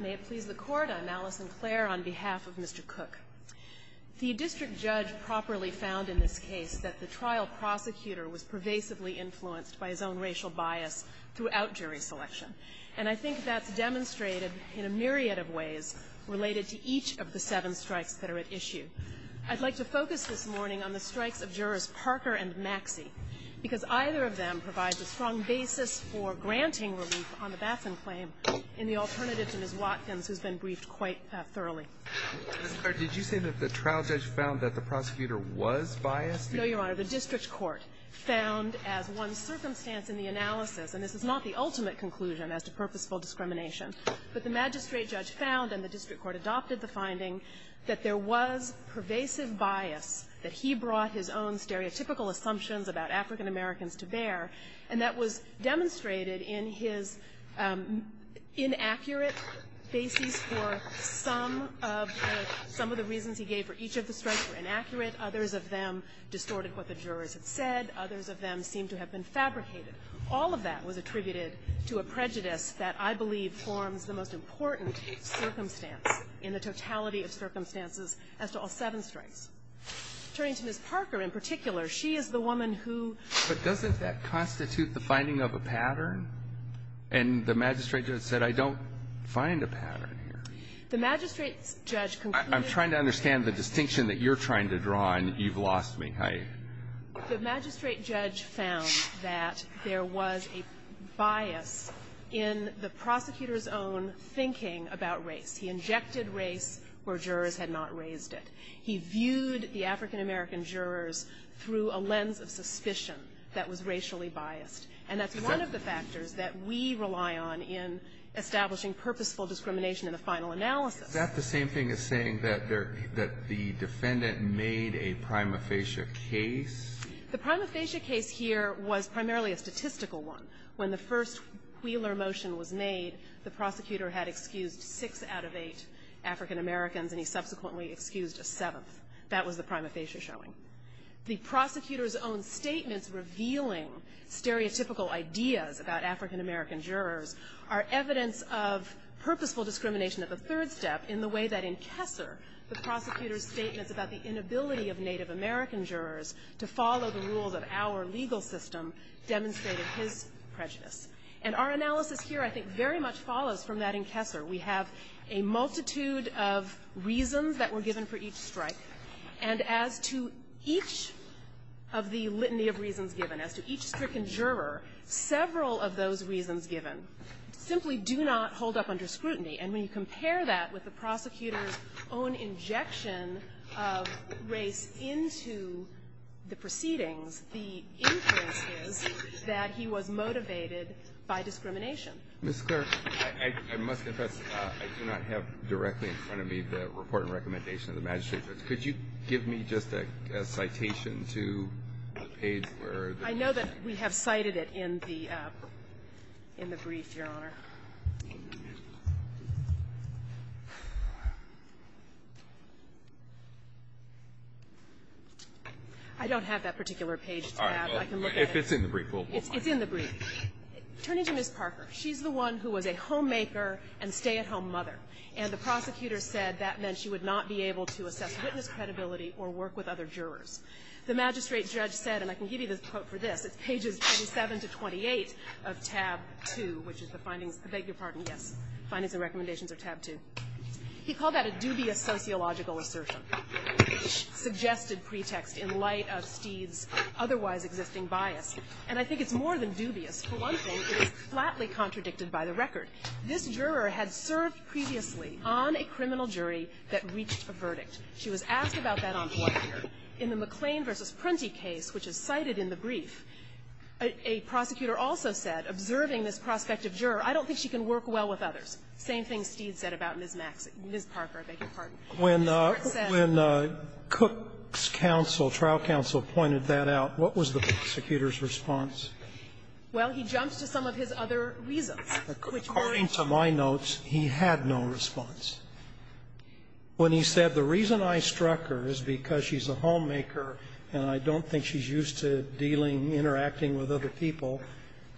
May it please the court, I'm Allison Clare on behalf of Mr. Cook. The district judge properly found in this case that the trial prosecutor was pervasively influenced by his own racial bias throughout jury selection. And I think that's demonstrated in a myriad of ways related to each of the seven strikes that are at issue. I'd like to focus this morning on the strikes of jurors Parker and Maxey, because either of them provides a strong basis for granting relief on the Batson claim, in the alternative to Ms. Watkins, who's been briefed quite thoroughly. Ms. Clare, did you say that the trial judge found that the prosecutor was biased? No, Your Honor. The district court found, as one circumstance in the analysis, and this is not the ultimate conclusion as to purposeful discrimination, but the magistrate judge found, and the district court adopted the finding, that there was pervasive bias that he brought his own stereotypical assumptions about African Americans to bear, and that was demonstrated in his inaccurate basis for some of the reasons he gave for each of the strikes were inaccurate. Others of them distorted what the jurors had said. Others of them seemed to have been fabricated. All of that was attributed to a prejudice that I believe forms the most important circumstance in the totality of circumstances as to all seven strikes. Turning to Ms. Parker in particular, she is the woman who ---- But doesn't that constitute the finding of a pattern? And the magistrate judge said, I don't find a pattern here. The magistrate judge concluded ---- I'm trying to understand the distinction that you're trying to draw, and you've lost me. The magistrate judge found that there was a bias in the prosecutor's own thinking about race. He injected race where jurors had not raised it. He viewed the African American jurors through a lens of suspicion that was racially biased, and that's one of the factors that we rely on in establishing purposeful discrimination in the final analysis. Is that the same thing as saying that the defendant made a prima facie case? The prima facie case here was primarily a statistical one. When the first Wheeler motion was made, the prosecutor had excused six out of eight African Americans, and he subsequently excused a seventh. That was the prima facie showing. The prosecutor's own statements revealing stereotypical ideas about African American jurors are evidence of purposeful discrimination at the third step in the way that in Kessler, the prosecutor's statements about the inability of Native American jurors to follow the rules of our legal system demonstrated his prejudice. And our analysis here, I think, very much follows from that in Kessler. We have a multitude of reasons that were given for each strike, and as to each of the reasons that were given, simply do not hold up under scrutiny. And when you compare that with the prosecutor's own injection of race into the proceedings, the inference is that he was motivated by discrimination. Alito, I must confess, I do not have directly in front of me the report and recommendation of the magistrate's office. Could you give me just a citation to the page where the ---- It's in the brief, Your Honor. I don't have that particular page to have. I can look at it. If it's in the brief, we'll move on. It's in the brief. Turning to Ms. Parker, she's the one who was a homemaker and stay-at-home mother, and the prosecutor said that meant she would not be able to assess witness credibility or work with other jurors. The magistrate judge said, and I can give you the quote for this, it's pages 27 to 28 of tab 2, which is the findings, I beg your pardon, yes, findings and recommendations of tab 2. He called that a dubious sociological assertion, suggested pretext in light of Steed's otherwise existing bias. And I think it's more than dubious. For one thing, it is flatly contradicted by the record. This juror had served previously on a criminal jury that reached a verdict. She was asked about that on board here. In the McLean v. Printy case, which is cited in the brief, a prosecutor also said observing this prospective juror, I don't think she can work well with others. Same thing Steed said about Ms. Maxx – Ms. Parker, I beg your pardon. When Cook's counsel, trial counsel, pointed that out, what was the prosecutor's response? Well, he jumped to some of his other reasons, which weren't to my notes, he had no response. When he said the reason I struck her is because she's a homemaker and I don't think she's used to dealing, interacting with other people,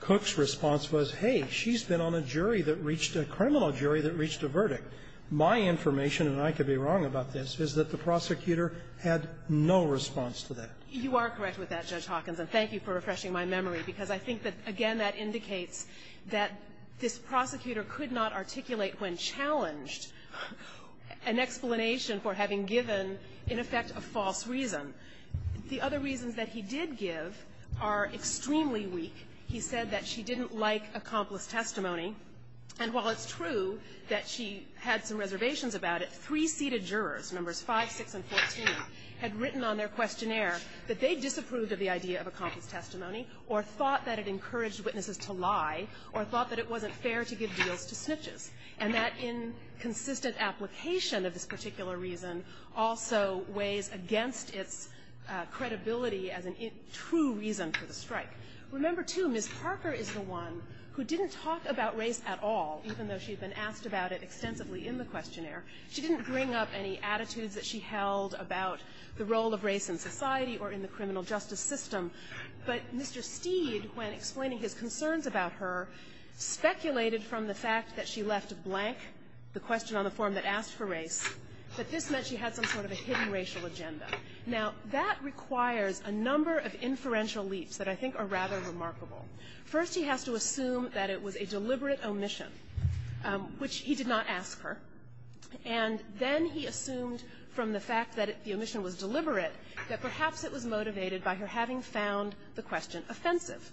Cook's response was, hey, she's been on a jury that reached a criminal jury that reached a verdict. My information, and I could be wrong about this, is that the prosecutor had no response to that. You are correct with that, Judge Hawkins, and thank you for refreshing my memory, because I think that, again, that indicates that this prosecutor could not articulate when challenged an explanation for having given, in effect, a false reason. The other reasons that he did give are extremely weak. He said that she didn't like accomplice testimony. And while it's true that she had some reservations about it, three seated jurors, numbers 5, 6, and 14, had written on their questionnaire that they disapproved of the idea of accomplice testimony or thought that it encouraged witnesses to lie or thought that it wasn't fair to give deals to snitches. And that inconsistent application of this particular reason also weighs against its credibility as a true reason for the strike. Remember, too, Ms. Parker is the one who didn't talk about race at all, even though she'd been asked about it extensively in the questionnaire. She didn't bring up any attitudes that she held about the role of race in society or in the criminal justice system. But Mr. Steed, when explaining his concerns about her, speculated from the fact that she left blank the question on the form that asked for race, that this meant she had some sort of a hidden racial agenda. Now, that requires a number of inferential leaps that I think are rather remarkable. First, he has to assume that it was a deliberate omission, which he did not ask her. And then he assumed from the fact that the omission was deliberate that perhaps it was motivated by her having found the question offensive.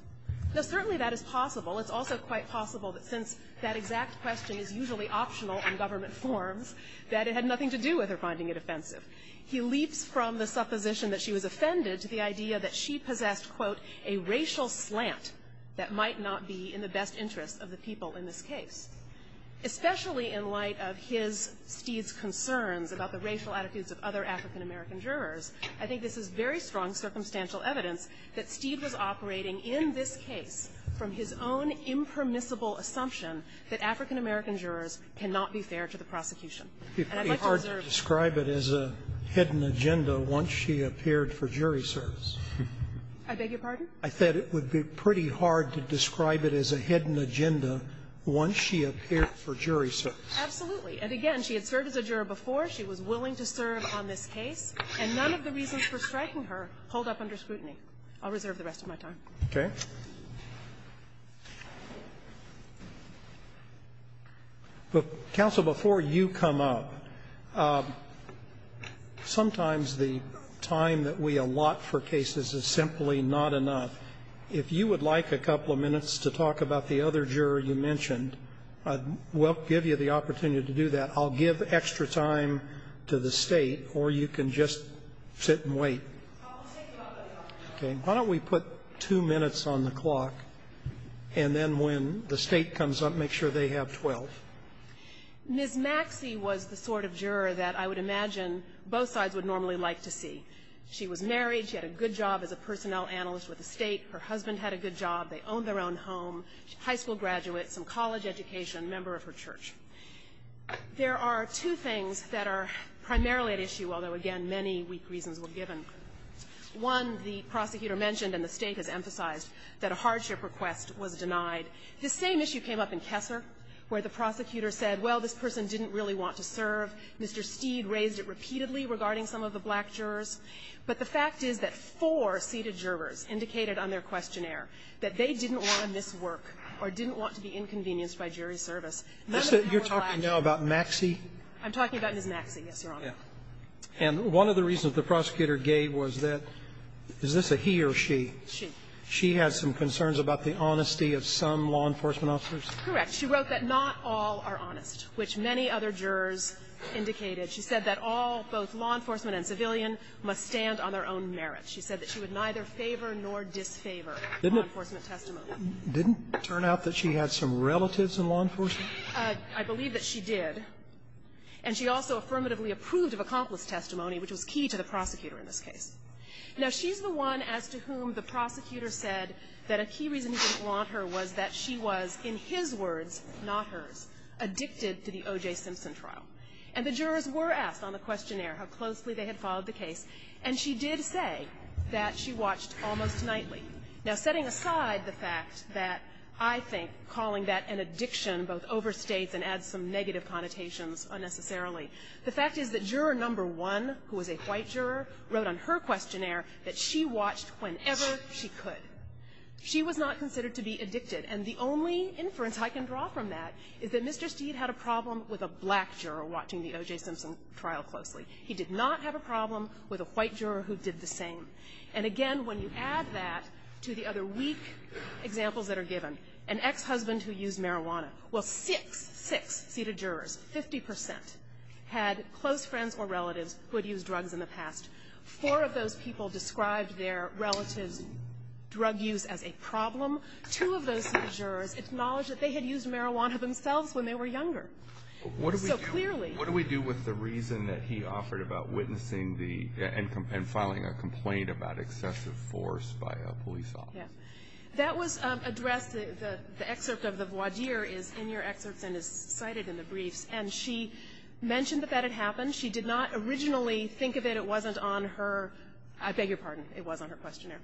Now, certainly that is possible. It's also quite possible that since that exact question is usually optional in government forms, that it had nothing to do with her finding it offensive. He leaps from the supposition that she was offended to the idea that she possessed, quote, a racial slant that might not be in the best interest of the people in this case. Especially in light of his, Steed's concerns about the racial attitudes of other African-American jurors, I think this is very strong circumstantial evidence that Steed was operating in this case from his own impermissible assumption that African-American jurors cannot be fair to the prosecution. And I'd like to observe that. Scalia. It would be pretty hard to describe it as a hidden agenda once she appeared for jury service. Anderson. I beg your pardon? Scalia. for jury service. Anderson. Absolutely. And again, she had served as a juror before. She was willing to serve on this case. And none of the reasons for striking her hold up under scrutiny. I'll reserve the rest of my time. Okay. Counsel, before you come up, sometimes the time that we allot for cases is simply not enough. If you would like a couple of minutes to talk about the other juror you mentioned, I will give you the opportunity to do that. I'll give extra time to the State, or you can just sit and wait. Okay. Why don't we put two minutes on the clock, and then when the State comes up, make sure they have 12. Ms. Maxie was the sort of juror that I would imagine both sides would normally like to see. She was married. She had a good job as a personnel analyst with the State. Her husband had a good job. They owned their own home. High school graduate, some college education, member of her church. There are two things that are primarily at issue, although, again, many weak reasons were given. One, the prosecutor mentioned, and the State has emphasized, that a hardship request was denied. The same issue came up in Kesser, where the prosecutor said, well, this person didn't really want to serve. Mr. Steed raised it repeatedly regarding some of the black jurors. But the fact is that four seated jurors indicated on their questionnaire that they didn't want to miss work or didn't want to be inconvenienced by jury service. None of them were black. You're talking now about Maxie? I'm talking about Ms. Maxie, yes, Your Honor. And one of the reasons the prosecutor gave was that, is this a he or she? She. She had some concerns about the honesty of some law enforcement officers? Correct. She wrote that not all are honest, which many other jurors indicated. She said that all, both law enforcement and civilian, must stand on their own merit. She said that she would neither favor nor disfavor. Didn't it turn out that she had some relatives in law enforcement? I believe that she did. And she also affirmatively approved of accomplice testimony, which was key to the prosecutor in this case. Now, she's the one as to whom the prosecutor said that a key reason he didn't want her was that she was, in his words, not hers, addicted to the O.J. Simpson trial. And the jurors were asked on the questionnaire how closely they had followed the case, and she did say that she watched almost nightly. Now, setting aside the fact that I think calling that an addiction both overstates and adds some negative connotations unnecessarily, the fact is that Juror No. 1, who was a white juror, wrote on her questionnaire that she watched whenever she could. She was not considered to be addicted. And the only inference I can draw from that is that Mr. Steed had a problem with a black juror watching the O.J. Simpson trial closely. He did not have a problem with a white juror who did the same. And again, when you add that to the other weak examples that are given, an ex-husband who used marijuana, well, six, six seated jurors, 50 percent, had close friends or relatives who had used drugs in the past. Four of those people described their relative's drug use as a problem. Two of those seated jurors acknowledged that they had used marijuana themselves when they were younger. So clearly. Alito What do we do with the reason that he offered about witnessing the and filing a complaint about excessive force by a police officer? O'Connor Yeah. That was addressed. The excerpt of the voir dire is in your excerpts and is cited in the briefs. And she mentioned that that had happened. She did not originally think of it. It wasn't on her. I beg your pardon. It was on her questionnaire.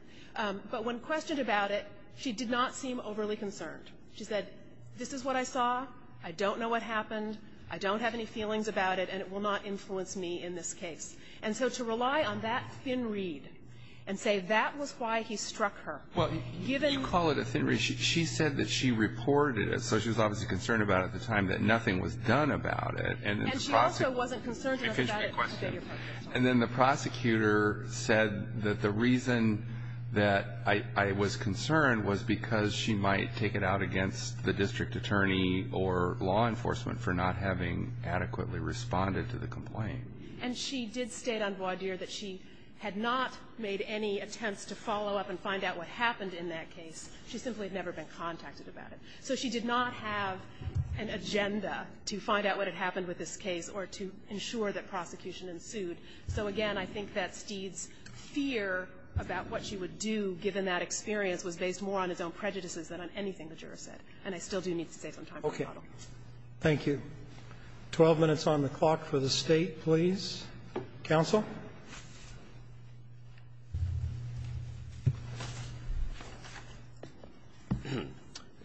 But when questioned about it, she did not seem overly concerned. She said, this is what I saw. I don't know what happened. I don't have any feelings about it. And it will not influence me in this case. And so to rely on that thin read and say that was why he struck her. Alito Well, you call it a thin read. She said that she reported it. So she was obviously concerned about it at the time that nothing was done about it. And the prosecutor. O'Connor And she also wasn't concerned about it. Alito And then the prosecutor said that the reason that I was concerned was because she might take it out against the district attorney or law enforcement for not having adequately responded to the complaint. O'Connor And she did state on voir dire that she had not made any attempts to follow up and find out what happened in that case. She simply had never been contacted about it. So she did not have an agenda to find out what had happened with this case or to ensure that prosecution ensued. So, again, I think that Steed's fear about what she would do, given that experience, was based more on his own prejudices than on anything the jurors said. And I still do need to save some time for my model. Roberts. Thank you. Twelve minutes on the clock for the State, please. Counsel.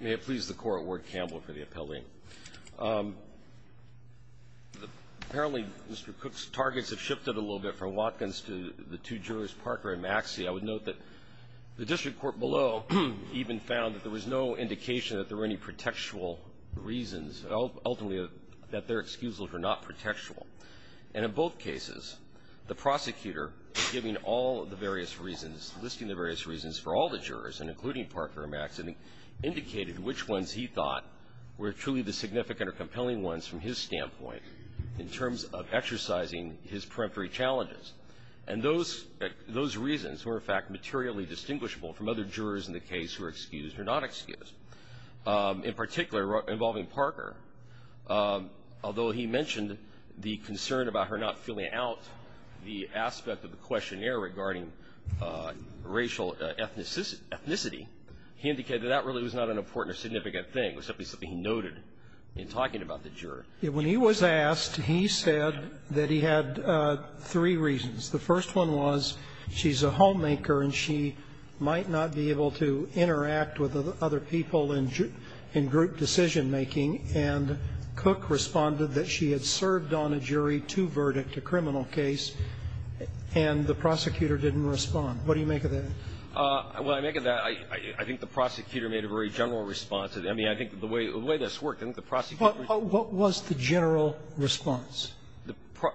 May it please the Court. Ward Campbell for the appellee. Apparently, Mr. Cook's targets have shifted a little bit from Watkins to the two jurors, Parker and Maxey. I would note that the district court below even found that there was no indication that there were any pretextual reasons, ultimately that their excuses were not pretextual. And in both cases, the prosecutor giving all of the various reasons, listing the various reasons for all the jurors, and including Parker and Maxey, indicated which ones he thought were truly the significant or compelling ones from his standpoint in terms of exercising his peremptory challenges. And those reasons were, in fact, materially distinguishable from other jurors in the case who were excused or not excused. In particular, involving Parker, although he mentioned the concern about her not filling out the aspect of the questionnaire regarding racial ethnicity, he indicated that really was not an important or significant thing, except it was something he noted in talking about the juror. When he was asked, he said that he had three reasons. The first one was, she's a homemaker, and she might not be able to interact with other people in group decision-making. And Cook responded that she had served on a jury to verdict a criminal case, and the prosecutor didn't respond. What do you make of that? Well, I make of that, I think the prosecutor made a very general response. I mean, I think the way this worked, I think the prosecutor was the general response.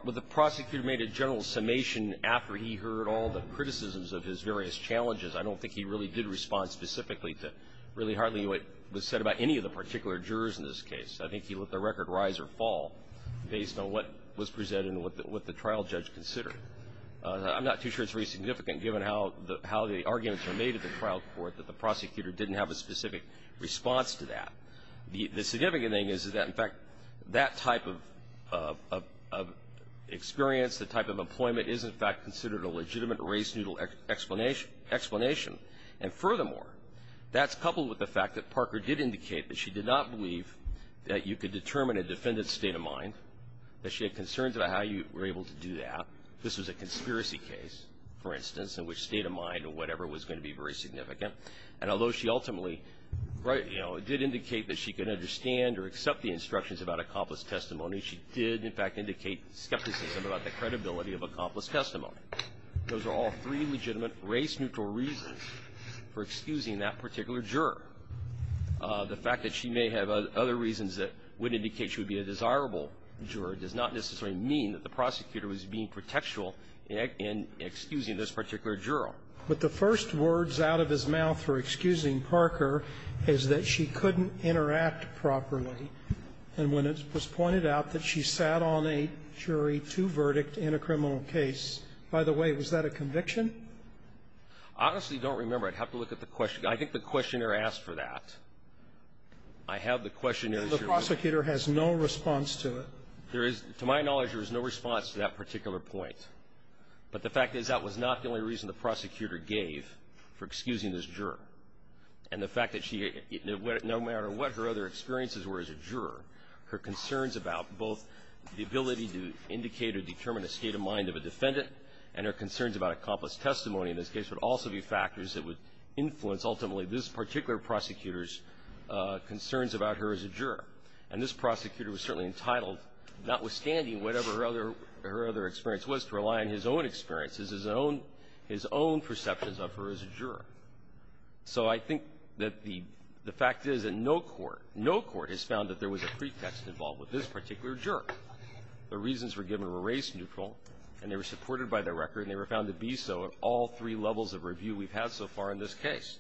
Well, the prosecutor made a general summation after he heard all the criticisms of his various challenges. I don't think he really did respond specifically to really hardly what was said about any of the particular jurors in this case. I think he let the record rise or fall based on what was presented and what the trial judge considered. I'm not too sure it's very significant, given how the arguments were made at the trial court, that the prosecutor didn't have a specific response to that. The significant thing is, is that, in fact, that type of experience, the type of employment, is, in fact, considered a legitimate race-noodle explanation. And, furthermore, that's coupled with the fact that Parker did indicate that she did not believe that you could determine a defendant's state of mind, that she had concerns about how you were able to do that. This was a conspiracy case, for instance, in which state of mind or whatever was going to be very significant. And although she ultimately, right, you know, did indicate that she could understand or accept the instructions about accomplice testimony, she did, in fact, indicate skepticism about the credibility of accomplice testimony. Those are all three legitimate race-noodle reasons for excusing that particular juror. The fact that she may have other reasons that would indicate she would be a desirable juror does not necessarily mean that the prosecutor was being protectual in excusing this particular juror. But the first words out of his mouth for excusing Parker is that she couldn't interact properly. And when it was pointed out that she sat on a jury to verdict in a criminal case, by the way, was that a conviction? I honestly don't remember. I'd have to look at the question. I think the questionnaire asked for that. I have the questionnaire. The prosecutor has no response to it. There is. To my knowledge, there is no response to that particular point. But the fact is that was not the only reason the prosecutor gave for excusing this juror. And the fact that she, no matter what her other experiences were as a juror, her concerns about both the ability to indicate or determine the state of mind of a defendant and her concerns about accomplice testimony in this case would also be factors that would influence ultimately this particular prosecutor's concerns about her as a juror. And this prosecutor was certainly entitled, notwithstanding whatever her other experience was, to rely on his own experiences, his own perceptions of her as a juror. So I think that the fact is that no court, no court has found that there was a pretext involved with this particular juror. The reasons were given were race-neutral, and they were supported by the record, and they were found to be so at all three levels of review we've had so far in this case.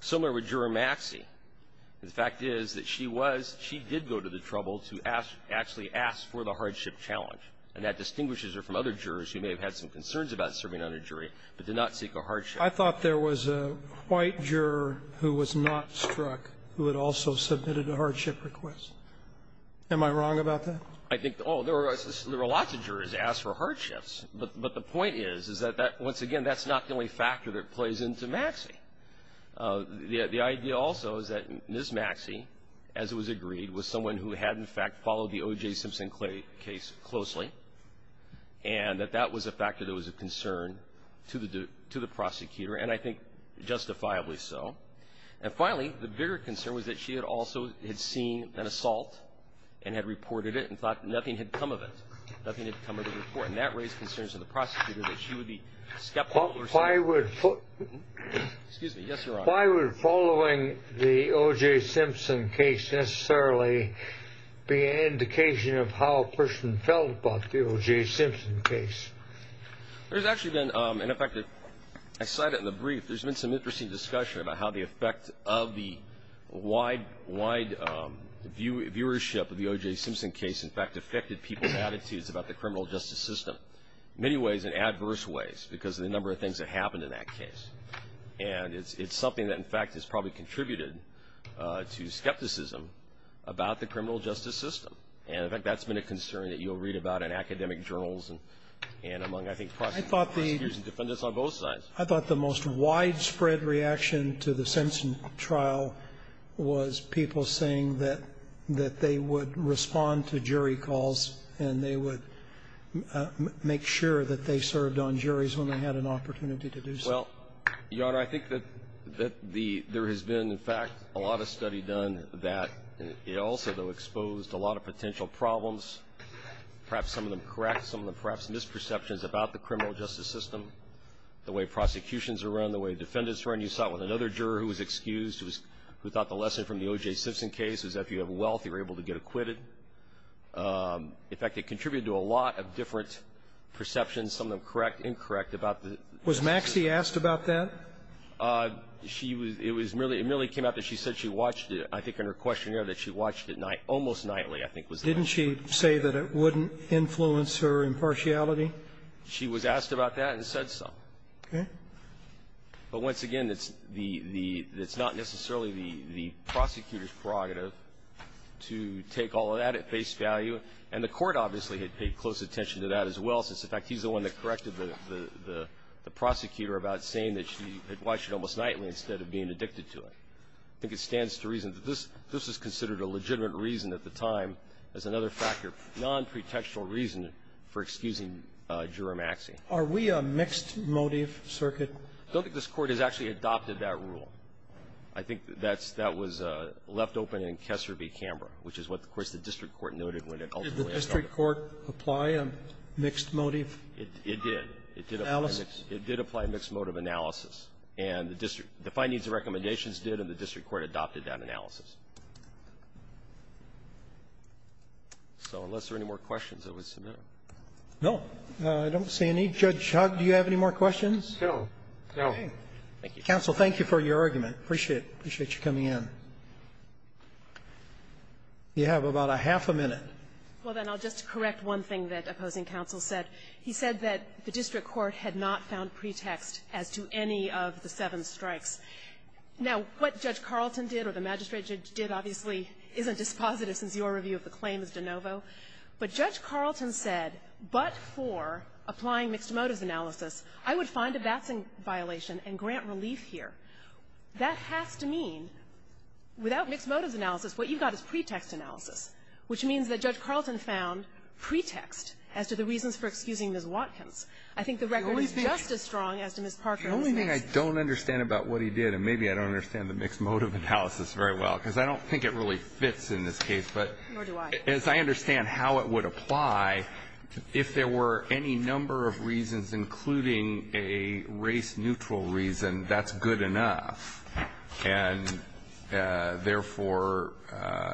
Similar with Juror Maxey. The fact is that she was, she did go to the trouble to ask, actually ask for the hardship challenge. And that distinguishes her from other jurors who may have had some concerns about serving on a jury, but did not seek a hardship. I thought there was a white juror who was not struck who had also submitted a hardship request. Am I wrong about that? I think, oh, there were lots of jurors who asked for hardships. But the point is, is that that, once again, that's not the only factor that plays into Maxey. The idea also is that Ms. Maxey, as it was agreed, was someone who had, in fact, followed the O.J. Simpson case closely, and that that was a factor that was a concern to the prosecutor, and I think justifiably so. And finally, the bigger concern was that she had also had seen an assault and had reported it and thought nothing had come of it. Nothing had come of the report. And that raised concerns of the prosecutor that she would be skeptical or something. Why would following the O.J. Simpson case be an indication of how a person felt about the O.J. Simpson case? There's actually been, in effect, I cite it in the brief, there's been some interesting discussion about how the effect of the wide viewership of the O.J. Simpson case, in fact, affected people's attitudes about the criminal justice system, in many ways, in adverse ways, because of the number of things that happened in that case. And it's something that, in fact, has probably contributed to skepticism about the criminal justice system. And, in fact, that's been a concern that you'll read about in academic journals and among, I think, prosecutors and defendants on both sides. I thought the most widespread reaction to the Simpson trial was people saying that they would respond to jury calls and they would make sure that they served on juries when they had an opportunity to do so. Well, Your Honor, I think that there has been, in fact, a lot of study done that it also, though, exposed a lot of potential problems, perhaps some of them correct, some of them perhaps misperceptions about the criminal justice system, the way prosecutions are run, the way defendants are run. You saw it with another juror who was excused, who thought the lesson from the O.J. Simpson case was that if you have wealth, you're able to get acquitted. In fact, it contributed to a lot of different perceptions, some of them correct, incorrect, about the ---- Was Maxie asked about that? She was ---- it was merely ---- it merely came out that she said she watched it. I think in her questionnaire that she watched it almost nightly, I think, was the only way to get it. Didn't she say that it wouldn't influence her impartiality? She was asked about that and said so. Okay. But once again, it's the ---- it's not necessarily the prosecutor's prerogative to take all of that at face value. And the Court obviously had paid close attention to that as well, since, in fact, he's the one that corrected the prosecutor about saying that she had watched it almost nightly instead of being addicted to it. I think it stands to reason that this is considered a legitimate reason at the time as another factor, nonprotectional reason for excusing Juror Maxie. Are we a mixed-motive circuit? I don't think this Court has actually adopted that rule. I think that's that was left open in Kessler v. Canberra, which is what, of course, the district court noted when it ultimately adopted it. Did the district court apply a mixed-motive? It did. It did apply a mixed-motive analysis. And the district ---- the findings and recommendations did, and the district court adopted that analysis. So unless there are any more questions, I would submit them. Roberts. No. I don't see any. Judge Hugg, do you have any more questions? No. No. Thank you. Counsel, thank you for your argument. I appreciate it. I appreciate you coming in. You have about a half a minute. Well, then, I'll just correct one thing that opposing counsel said. He said that the district court had not found pretext as to any of the seven strikes. Now, what Judge Carlton did or the magistrate did, obviously, isn't dispositive since your review of the claim is de novo. But Judge Carlton said, but for applying mixed-motives analysis, I would find a batting violation and grant relief here. That has to mean, without mixed-motives analysis, what you've got is pretext analysis, which means that Judge Carlton found pretext as to the reasons for excusing Ms. Watkins. I think the record is just as strong as to Ms. Parker's case. The only thing I don't understand about what he did, and maybe I don't understand the mixed-motive analysis very well, because I don't think it really fits in this case, but as I understand how it would apply, if there were any number of reasons, including a race-neutral reason, that's good enough. And, therefore,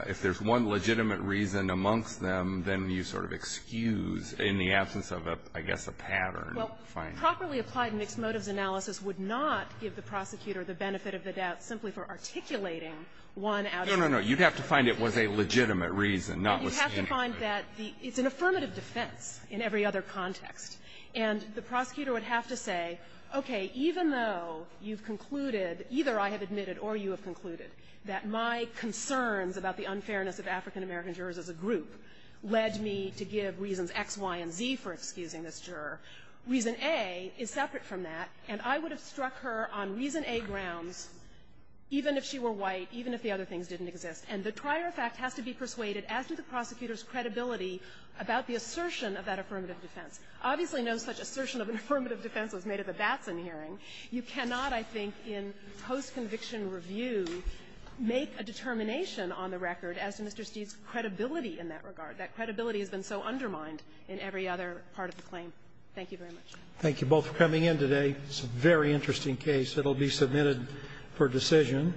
if there's one legitimate reason amongst them, then you sort of excuse in the absence of, I guess, a pattern finding. Well, properly applied mixed-motives analysis would not give the prosecutor the benefit of the doubt simply for articulating one out of the many reasons. No, no, no. You'd have to find it was a legitimate reason, not what's the inequity. You'd have to find that the – it's an affirmative defense in every other context. And the prosecutor would have to say, okay, even though you've concluded either I have admitted or you have concluded that my concerns about the unfairness of African-American jurors as a group led me to give reasons X, Y, and Z for excusing this juror, reason A is separate from that, and I would have struck her on reason A grounds even if she were white, even if the other things didn't exist. And the prior fact has to be persuaded, as do the prosecutor's credibility about the assertion of that affirmative defense. Obviously, no such assertion of an affirmative defense was made at the Batson hearing. You cannot, I think, in post-conviction review make a determination on the record as to Mr. Steeve's credibility in that regard. That credibility has been so undermined in every other part of the claim. Thank you very much. Thank you both for coming in today. It's a very interesting case. It will be submitted for decision.